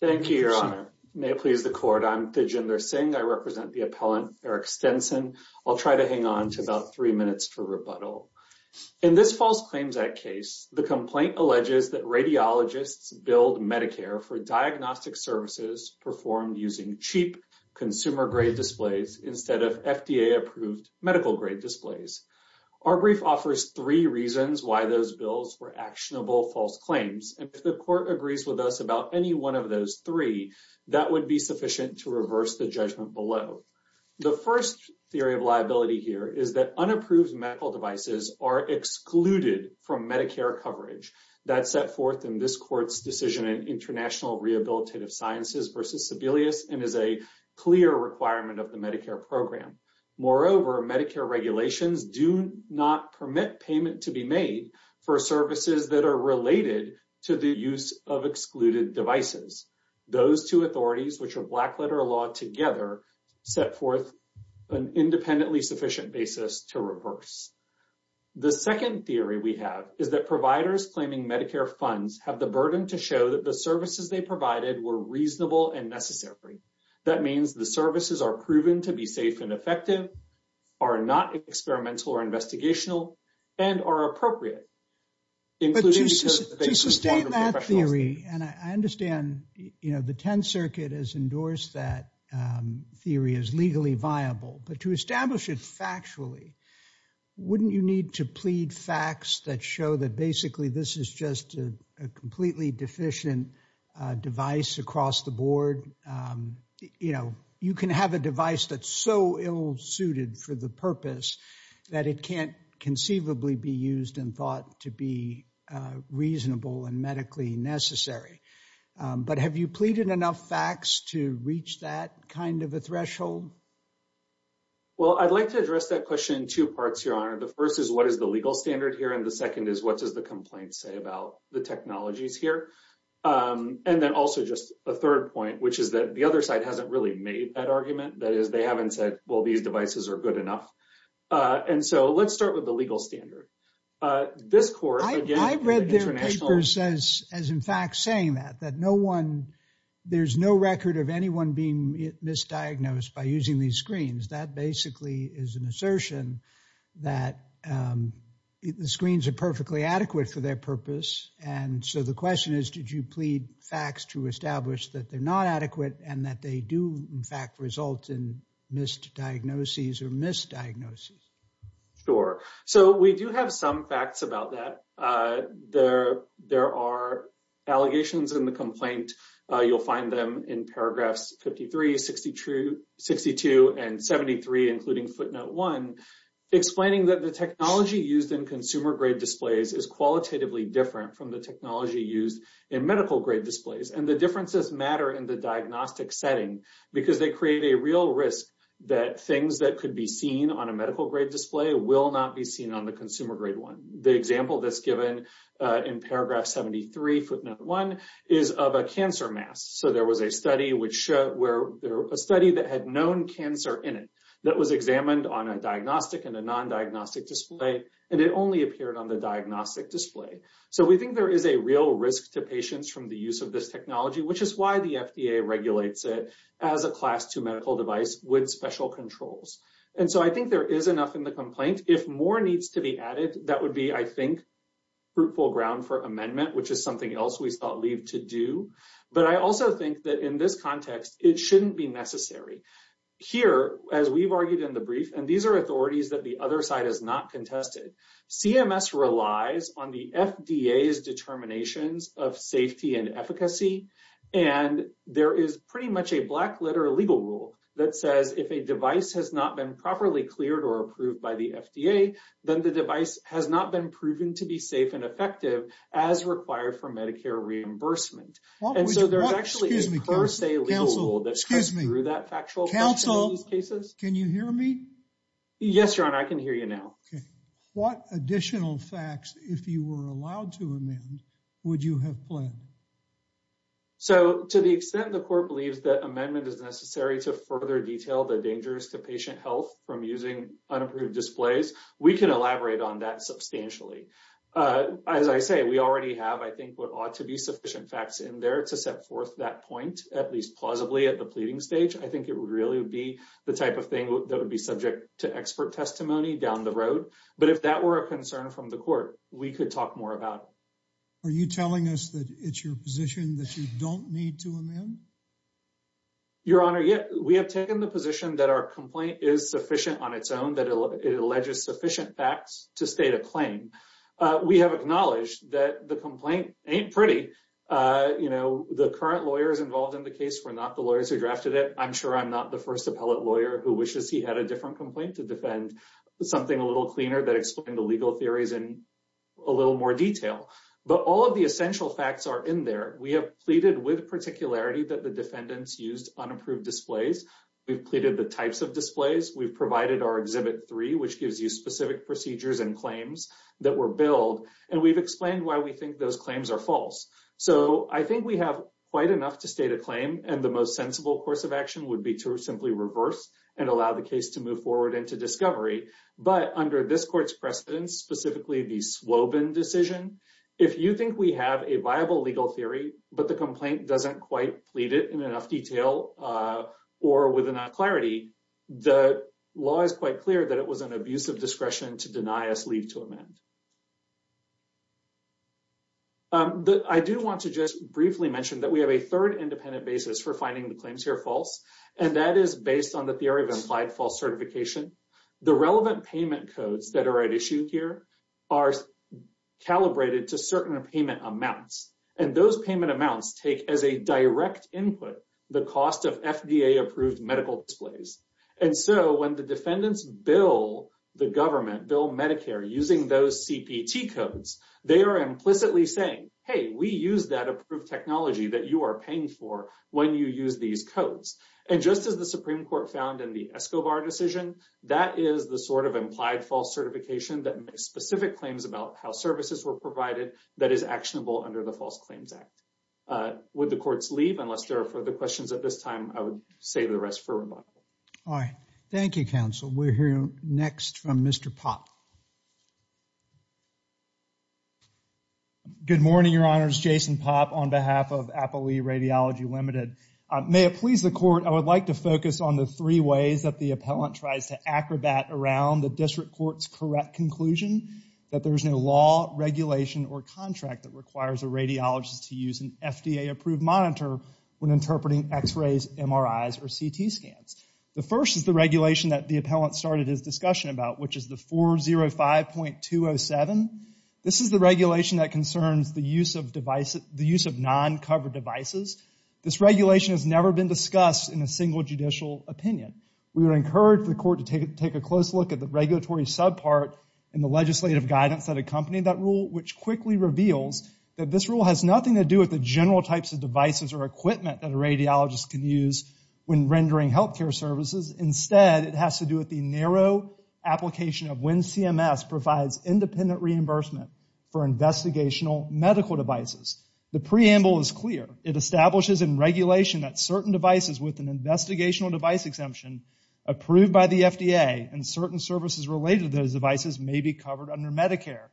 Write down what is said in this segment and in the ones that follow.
Thank you, Your Honor. May it please the Court, I'm Thijinder Singh. I represent the appellant, Eric Stenson. I'll try to hang on to about three minutes for rebuttal. In this False Claims Act case, the complaint alleges that radiologists billed Medicare for diagnostic services performed using cheap consumer-grade displays instead of FDA-approved medical-grade displays. Our brief offers three reasons why those bills were actionable false claims, and if the Court agrees with us about any one of those three, that would be sufficient to reverse the judgment below. The first theory of liability here is that unapproved medical devices are excluded from Medicare coverage. That's set forth in this Court's decision in International Rehabilitative Sciences v. Sebelius and is a clear requirement of the Medicare program. Moreover, Medicare regulations do not permit payment to be made for services that are related to the use of excluded devices. Those two authorities, which are blackletter law together, set forth an independently sufficient basis to reverse. The second theory we have is that providers claiming Medicare funds have the burden to show that the services they provided were reasonable and necessary. That means the services are proven to be safe and effective, are not experimental or investigational, and are appropriate. But to sustain that theory, and I understand, you know, the Tenth Circuit has endorsed that theory as legally viable, but to establish it factually, wouldn't you need to plead facts that show that basically this is just a completely deficient device across the board? You know, a device that's so ill-suited for the purpose that it can't conceivably be used and thought to be reasonable and medically necessary. But have you pleaded enough facts to reach that kind of a threshold? Well, I'd like to address that question in two parts, Your Honor. The first is, what is the legal standard here? And the second is, what does the complaint say about the technologies here? And then also just a third point, which is that the other side hasn't really made that argument. That is, they haven't said, well, these devices are good enough. And so, let's start with the legal standard. This court, again, international... I read their papers as, in fact, saying that, that no one, there's no record of anyone being misdiagnosed by using these screens. That basically is an assertion that the screens are perfectly adequate for their purpose. And so, the question is, did you plead facts to in fact result in misdiagnoses or misdiagnoses? Sure. So, we do have some facts about that. There are allegations in the complaint. You'll find them in paragraphs 53, 62, and 73, including footnote one, explaining that the technology used in consumer-grade displays is qualitatively different from the technology used in medical-grade displays. And the differences matter in the diagnostic setting because they create a real risk that things that could be seen on a medical-grade display will not be seen on the consumer-grade one. The example that's given in paragraph 73, footnote one, is of a cancer mask. So, there was a study that had known cancer in it that was examined on a diagnostic and a non-diagnostic display, and it only appeared on the diagnostic display. So, we think there is a real risk to patients from the use of this technology, which is why the FDA regulates it as a class two medical device with special controls. And so, I think there is enough in the complaint. If more needs to be added, that would be, I think, fruitful ground for amendment, which is something else we thought leave to do. But I also think that in this context, it shouldn't be necessary. Here, as we've argued in the brief, and these are authorities that the other side has not contested, CMS relies on the FDA's determinations of safety and efficacy. And there is pretty much a black letter legal rule that says if a device has not been properly cleared or approved by the FDA, then the device has not been proven to be safe and effective as required for Medicare reimbursement. And so, there's actually a per se legal rule that comes through that factual fact in these cases. Can you hear me? Yes, your honor. I can hear you now. Okay. What additional facts, if you were allowed to amend, would you have planned? So, to the extent the court believes that amendment is necessary to further detail the dangers to patient health from using unapproved displays, we can elaborate on that substantially. As I say, we already have, I think, what ought to be sufficient facts in there to set forth that I think it would really be the type of thing that would be subject to expert testimony down the road. But if that were a concern from the court, we could talk more about it. Are you telling us that it's your position that you don't need to amend? Your honor, yeah. We have taken the position that our complaint is sufficient on its own, that it alleges sufficient facts to state a claim. We have acknowledged that the complaint I'm sure I'm not the first appellate lawyer who wishes he had a different complaint to defend something a little cleaner that explained the legal theories in a little more detail. But all of the essential facts are in there. We have pleaded with particularity that the defendants used unapproved displays. We've pleaded the types of displays. We've provided our exhibit three, which gives you specific procedures and claims that were billed. And we've explained why we think those claims are false. So I think we have quite enough to state a claim and the most sensible course of action would be to simply reverse and allow the case to move forward into discovery. But under this court's precedence, specifically the Swobin decision, if you think we have a viable legal theory, but the complaint doesn't quite plead it in enough detail or with enough clarity, the law is quite clear that it was an abuse of discretion to deny us leave to amend. But I do want to just briefly mention that we have a third independent basis for finding the claims here false. And that is based on the theory of implied false certification. The relevant payment codes that are at issue here are calibrated to certain payment amounts. And those payment amounts take as a direct input, the cost of FDA approved medical displays. And so when the defendants bill the government, bill Medicare using those CPT codes, they are implicitly saying, hey, we use that approved technology that you are paying for when you use these codes. And just as the Supreme Court found in the Escobar decision, that is the sort of implied false certification that makes specific claims about how services were provided that is actionable under the False Claims Act. Would the courts leave unless there are further questions at this time? I would save the rest for rebuttal. All right. Thank you, counsel. We're hearing next from Mr. Popp. Good morning, your honors. Jason Popp on behalf of Appley Radiology Limited. May it please the court, I would like to focus on the three ways that the appellant tries to acrobat around the district court's correct conclusion that there is no law, regulation, or contract that requires a radiologist to use an FDA approved monitor when interpreting x-rays, MRIs, or CT scans. The first is the regulation that the appellant started his discussion about, which is the 405.207. This is the regulation that concerns the use of devices, the use of non-covered devices. This regulation has never been discussed in a single judicial opinion. We would encourage the court to take a close look at the regulatory subpart and the legislative guidance that accompanied that rule, which quickly reveals that this rule has nothing to do with the general types of devices or equipment that a radiologist can use when rendering health care services. Instead, it has to do with the narrow application of when CMS provides independent reimbursement for investigational medical devices. The preamble is clear. It establishes in regulation that certain devices with an investigational device exemption approved by the FDA and certain services related to those devices may be covered under Medicare.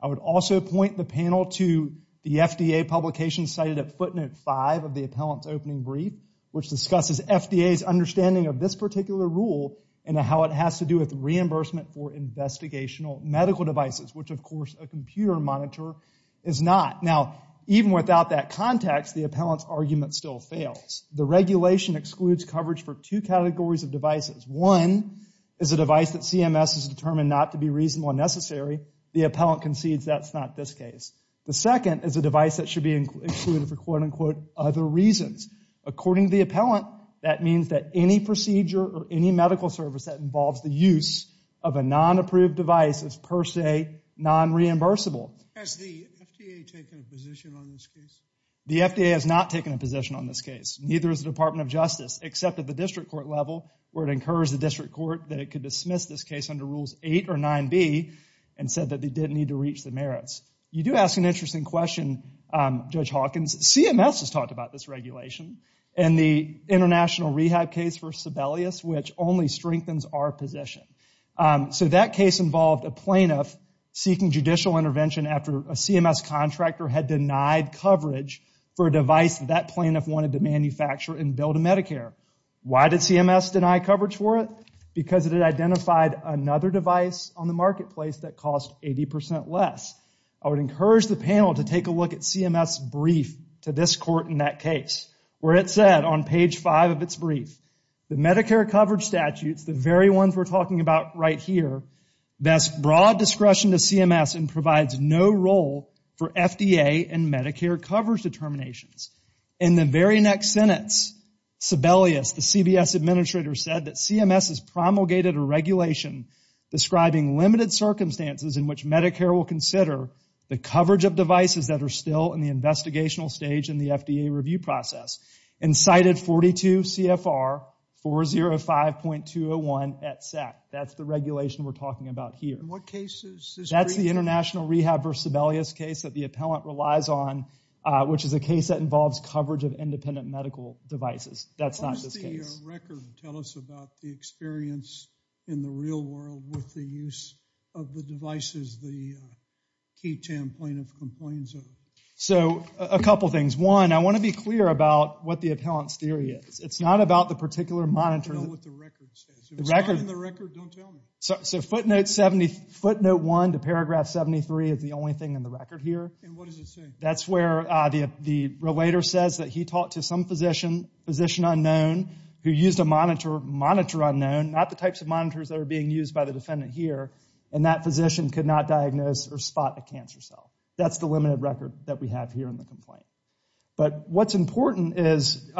I would also point the panel to the FDA publication cited at footnote five of the appellant's opening brief, which discusses FDA's understanding of this particular rule and how it has to do with reimbursement for investigational medical devices, which of course a computer monitor is not. Now, even without that context, the appellant's argument still fails. The regulation excludes coverage for two categories of devices. One is a device that CMS has determined not to be reasonable and necessary. The appellant concedes that's not this case. The second is a device that should be included for quote-unquote other reasons. According to the appellant, that means that any procedure or any medical service that involves the use of a non-approved device is per se non-reimbursable. Has the FDA taken a position on this case? The FDA has not taken a position on this case. Neither has the Department of Justice, except at the district court level where it incurs the 9B and said that they didn't need to reach the merits. You do ask an interesting question, Judge Hawkins. CMS has talked about this regulation in the international rehab case for Sibelius, which only strengthens our position. So that case involved a plaintiff seeking judicial intervention after a CMS contractor had denied coverage for a device that plaintiff wanted to manufacture and Medicare. Why did CMS deny coverage for it? Because it had identified another device on the marketplace that cost 80% less. I would encourage the panel to take a look at CMS brief to this court in that case where it said on page five of its brief, the Medicare coverage statutes, the very ones we're talking about right here, best broad discretion to CMS and provides no role for FDA and Medicare coverage determinations. In the very next sentence, Sibelius, the CBS administrator, said that CMS has promulgated a regulation describing limited circumstances in which Medicare will consider the coverage of devices that are still in the investigational stage in the FDA review process and cited 42 CFR 405.201 at SAC. That's the regulation we're talking about here. What That's the international rehab versus Sibelius case that the appellant relies on, which is a case that involves coverage of independent medical devices. That's not this case. So a couple things. One, I want to be clear about what the appellant's theory is. It's not about the paragraph 73 is the only thing in the record here. And what does it say? That's where the relator says that he talked to some physician, physician unknown, who used a monitor, monitor unknown, not the types of monitors that are being used by the defendant here, and that physician could not diagnose or spot a cancer cell. That's the limited record that we have here in the complaint. But what's important is,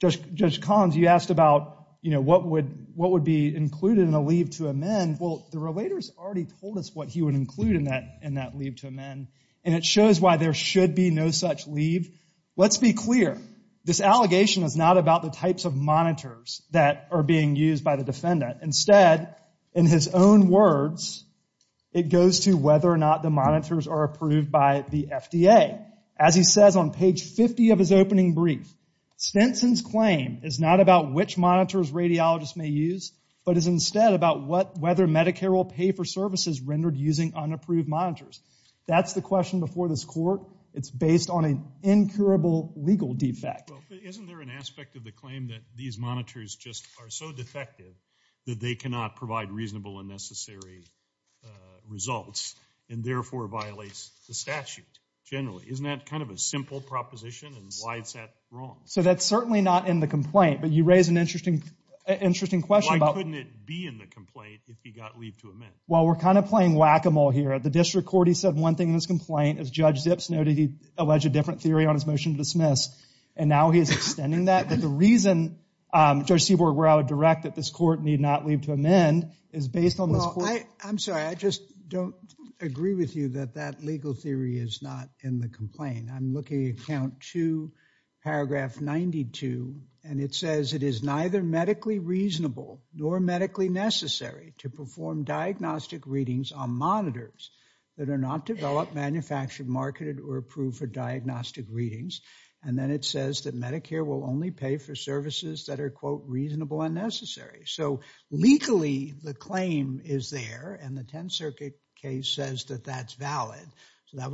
Judge Collins, you asked about, you know, what would be included in a leave to amend. Well, the relators already told us what he would include in that, in that leave to amend, and it shows why there should be no such leave. Let's be clear. This allegation is not about the types of monitors that are being used by the defendant. Instead, in his own words, it goes to whether or not the monitors are approved by the FDA. As he says on page 50 of his opening brief, Stinson's claim is not about which monitors radiologists may use, but is instead about what, whether Medicare will pay for services rendered using unapproved monitors. That's the question before this court. It's based on an incurable legal defect. Isn't there an aspect of the claim that these monitors just are so defective that they cannot provide reasonable and necessary results, and therefore violates the statute generally? Isn't that kind of a simple proposition, and why is that wrong? So that's certainly not in the complaint, but you raise an interesting, interesting question. Why couldn't it be in the complaint if he got leave to amend? Well, we're kind of playing whack-a-mole here. At the district court, he said one thing in his complaint. As Judge Zips noted, he alleged a different theory on his motion to dismiss, and now he is extending that. But the reason, Judge Seaborg, where I would direct that this court need not leave to amend is based on this. Well, I, I'm sorry, I just don't agree with you that that legal theory is not in the complaint. I'm looking at count two, paragraph 92, and it is neither medically reasonable nor medically necessary to perform diagnostic readings on monitors that are not developed, manufactured, marketed, or approved for diagnostic readings. And then it says that Medicare will only pay for services that are, quote, reasonable and necessary. So legally, the claim is there, and the 10th Circuit case says that that's valid. So that I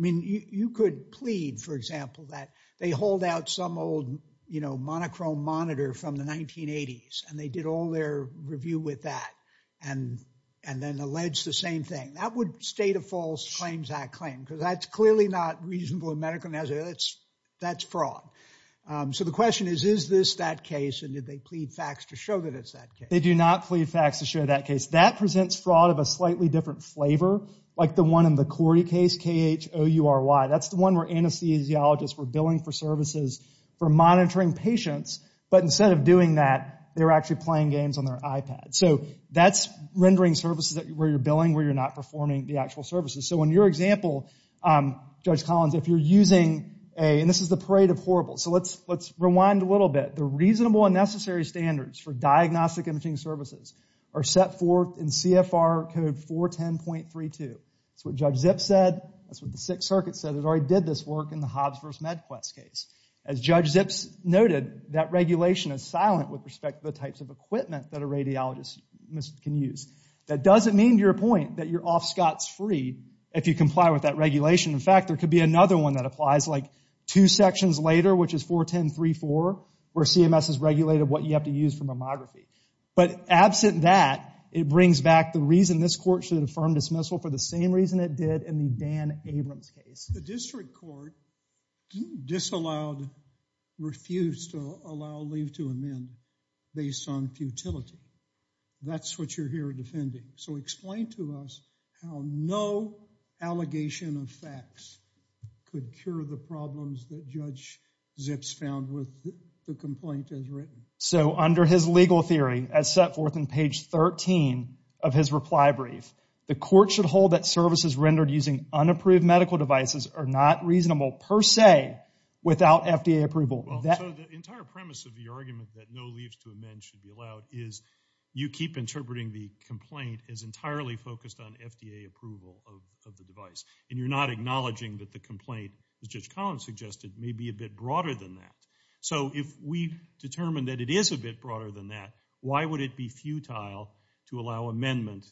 mean, you, you could plead, for example, that they hold out some old, you know, monochrome monitor from the 1980s, and they did all their review with that, and, and then allege the same thing. That would state a false claims act claim, because that's clearly not reasonable and medically necessary. That's, that's fraud. So the question is, is this that case, and did they plead facts to show that it's that case? They do not plead facts to show that case. That presents fraud of a slightly different flavor, like the one in the Cordy case, K-H-O-U-R-Y. That's the one where anesthesiologists were billing for services for monitoring patients, but instead of doing that, they're actually playing games on their iPad. So that's rendering services where you're billing, where you're not performing the actual services. So in your example, Judge Collins, if you're using a, and this is the parade of horribles, so let's, let's rewind a little bit. The reasonable and code 410.32. That's what Judge Zips said. That's what the Sixth Circuit said. It already did this work in the Hobbs versus Medquest case. As Judge Zips noted, that regulation is silent with respect to the types of equipment that a radiologist can use. That doesn't mean, to your point, that you're off scots free if you comply with that regulation. In fact, there could be another one that applies, like two sections later, which is 410.34, where CMS has regulated what you have to use for should affirm dismissal for the same reason it did in the Dan Abrams case. The district court disallowed, refused to allow leave to amend based on futility. That's what you're here defending. So explain to us how no allegation of facts could cure the problems that Judge Zips found with the complaint as written. So under his legal theory, as set forth in page 13 of his reply brief, the court should hold that services rendered using unapproved medical devices are not reasonable per se without FDA approval. The entire premise of the argument that no leaves to amend should be allowed is you keep interpreting the complaint as entirely focused on FDA approval of the device, and you're not acknowledging that the complaint, as Judge Collins suggested, may be a bit broader than that. So if we determined that it is a bit broader than that, why would it be futile to allow amendment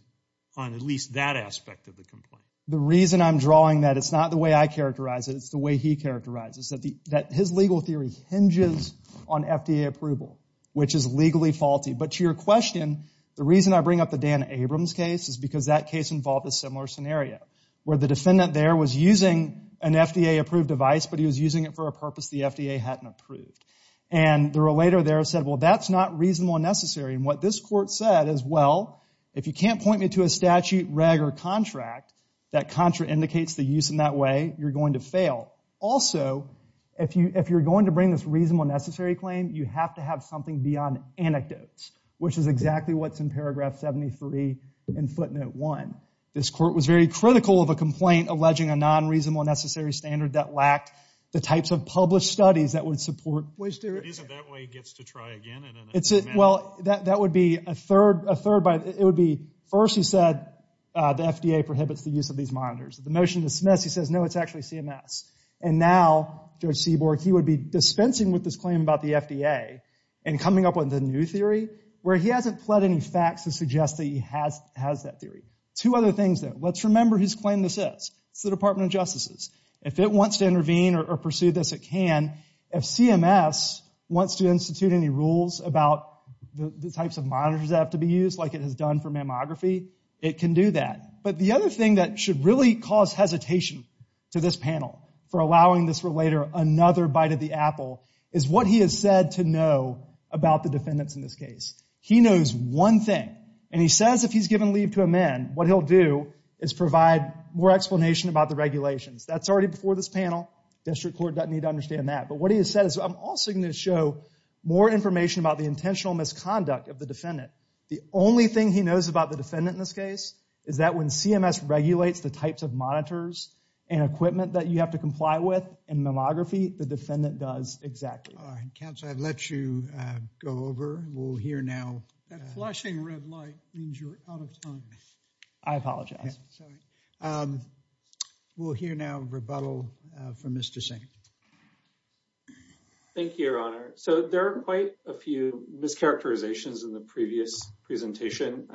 on at least that aspect of the complaint? The reason I'm drawing that, it's not the way I characterize it, it's the way he characterizes it. His legal theory hinges on FDA approval, which is legally faulty. But to your question, the reason I bring up the Dan Abrams case is because that case involved a similar scenario, where the defendant there was using an FDA-approved device, but he was using it for a purpose the FDA hadn't approved. And the relator there said, well, that's not reasonable and necessary. And what this court said is, well, if you can't point me to a statute, reg, or contract that contraindicates the use in that way, you're going to fail. Also, if you're going to bring this reasonable and necessary claim, you have to have something beyond anecdotes, which is exactly what's in paragraph 73 in footnote one. This court was very critical of a complaint alleging a non-reasonable and necessary standard that lacked the types of published studies that would support... But isn't that why he gets to try again? Well, that would be a third by, it would be, first he said, the FDA prohibits the use of these monitors. The motion to dismiss, he says, no, it's actually CMS. And now, Judge Seaborg, he would be dispensing with this claim about the FDA and coming up with a new theory, where he hasn't pled any facts to suggest that he has that theory. Two other things, though. Let's remember whose claim this is. It's the Department of Justices. If it wants to intervene or pursue this, it can. If CMS wants to institute any rules about the types of monitors that have to be used, like it has done for mammography, it can do that. But the other thing that should really cause hesitation to this panel for allowing this about the defendants in this case. He knows one thing, and he says if he's given leave to a man, what he'll do is provide more explanation about the regulations. That's already before this panel. District Court doesn't need to understand that. But what he has said is, I'm also going to show more information about the intentional misconduct of the defendant. The only thing he knows about the defendant in this case is that when CMS regulates the types of monitors and equipment that you have to comply with in mammography, the defendant does not have to comply with the regulations that CMS has put in place. That flashing red light means you're out of time. I apologize. We'll hear now a rebuttal from Mr. Singh. Thank you, Your Honor. So there are quite a few mischaracterizations in the previous presentation.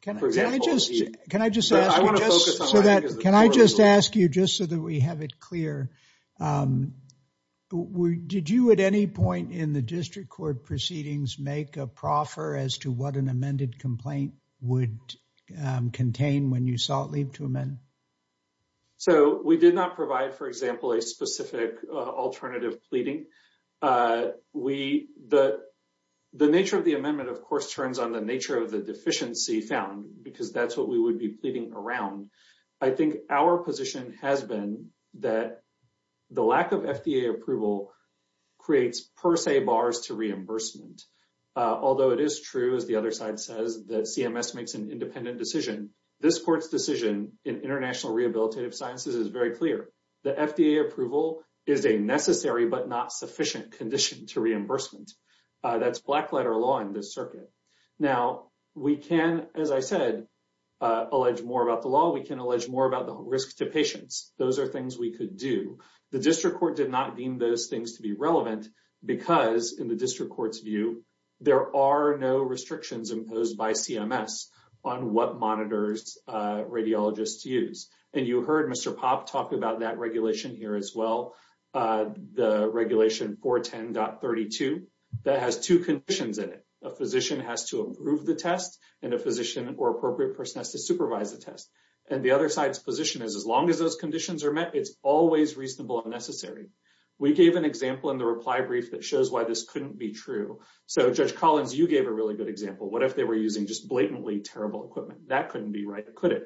Can I just ask you, just so that we have it clear, did you at any point in the district court proceedings make a proffer as to what an amended complaint would contain when you sought leave to amend? So we did not provide, for example, a specific alternative pleading. The nature of the amendment, of course, turns on the nature of the deficiency found, because that's what we would be pleading around. I think our position has been that the lack of FDA approval creates per se bars to reimbursement. Although it is true, as the other side says, that CMS makes an independent decision, this court's decision in International Rehabilitative Sciences is very clear. The FDA approval is a necessary but not sufficient condition to reimbursement. That's black letter law in this circuit. Now, we can, as I said, allege more about the law. We can allege more about the risk to patients. Those are things we could do. The district court did not deem those things to be relevant because, in the district court's view, there are no restrictions imposed by CMS on what monitors radiologists use. And you heard Mr. Popp talk about that regulation here as well, the regulation 410.32. That has two conditions in it. A physician has to approve the test, and a physician or appropriate person has to supervise the test. And the other side's position is, as long as those conditions are met, it's always reasonable and necessary. We gave an example in the reply brief that shows why this couldn't be true. So, Judge Collins, you gave a really good example. What if they were using just blatantly terrible equipment? That couldn't be right, could it?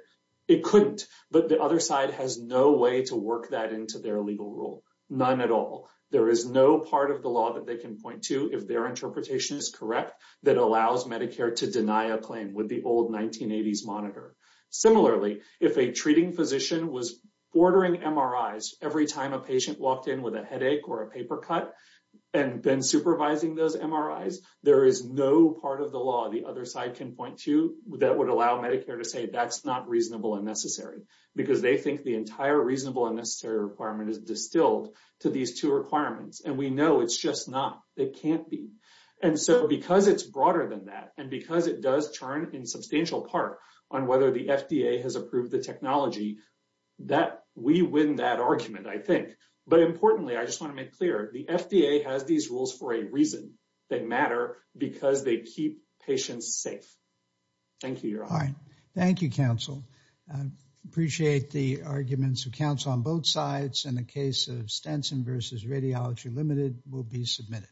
It couldn't. But the other side has no way to work that into their legal rule, none at all. There is no part of the law that they can point to, if their interpretation is correct, that allows Medicare to deny a claim with the old 1980s monitor. Similarly, if a treating physician was ordering MRIs every time a patient walked in with a headache or a paper cut, and then supervising those MRIs, there is no part of the law the other side can point to that would allow Medicare to say that's not reasonable and necessary. Because they think the entire reasonable and necessary requirement is distilled to these two requirements. And we know it's just not. It can't be. And so, because it's broader than that, and because it does turn in substantial part on whether the FDA has approved the technology, we win that argument, I think. But importantly, I just want to make clear, the FDA has these rules for a reason. They matter because they keep patients safe. Thank you, Your Honor. Thank you, counsel. I appreciate the arguments of counsel on both sides, and the case of Stenson versus Radiology Limited will be submitted.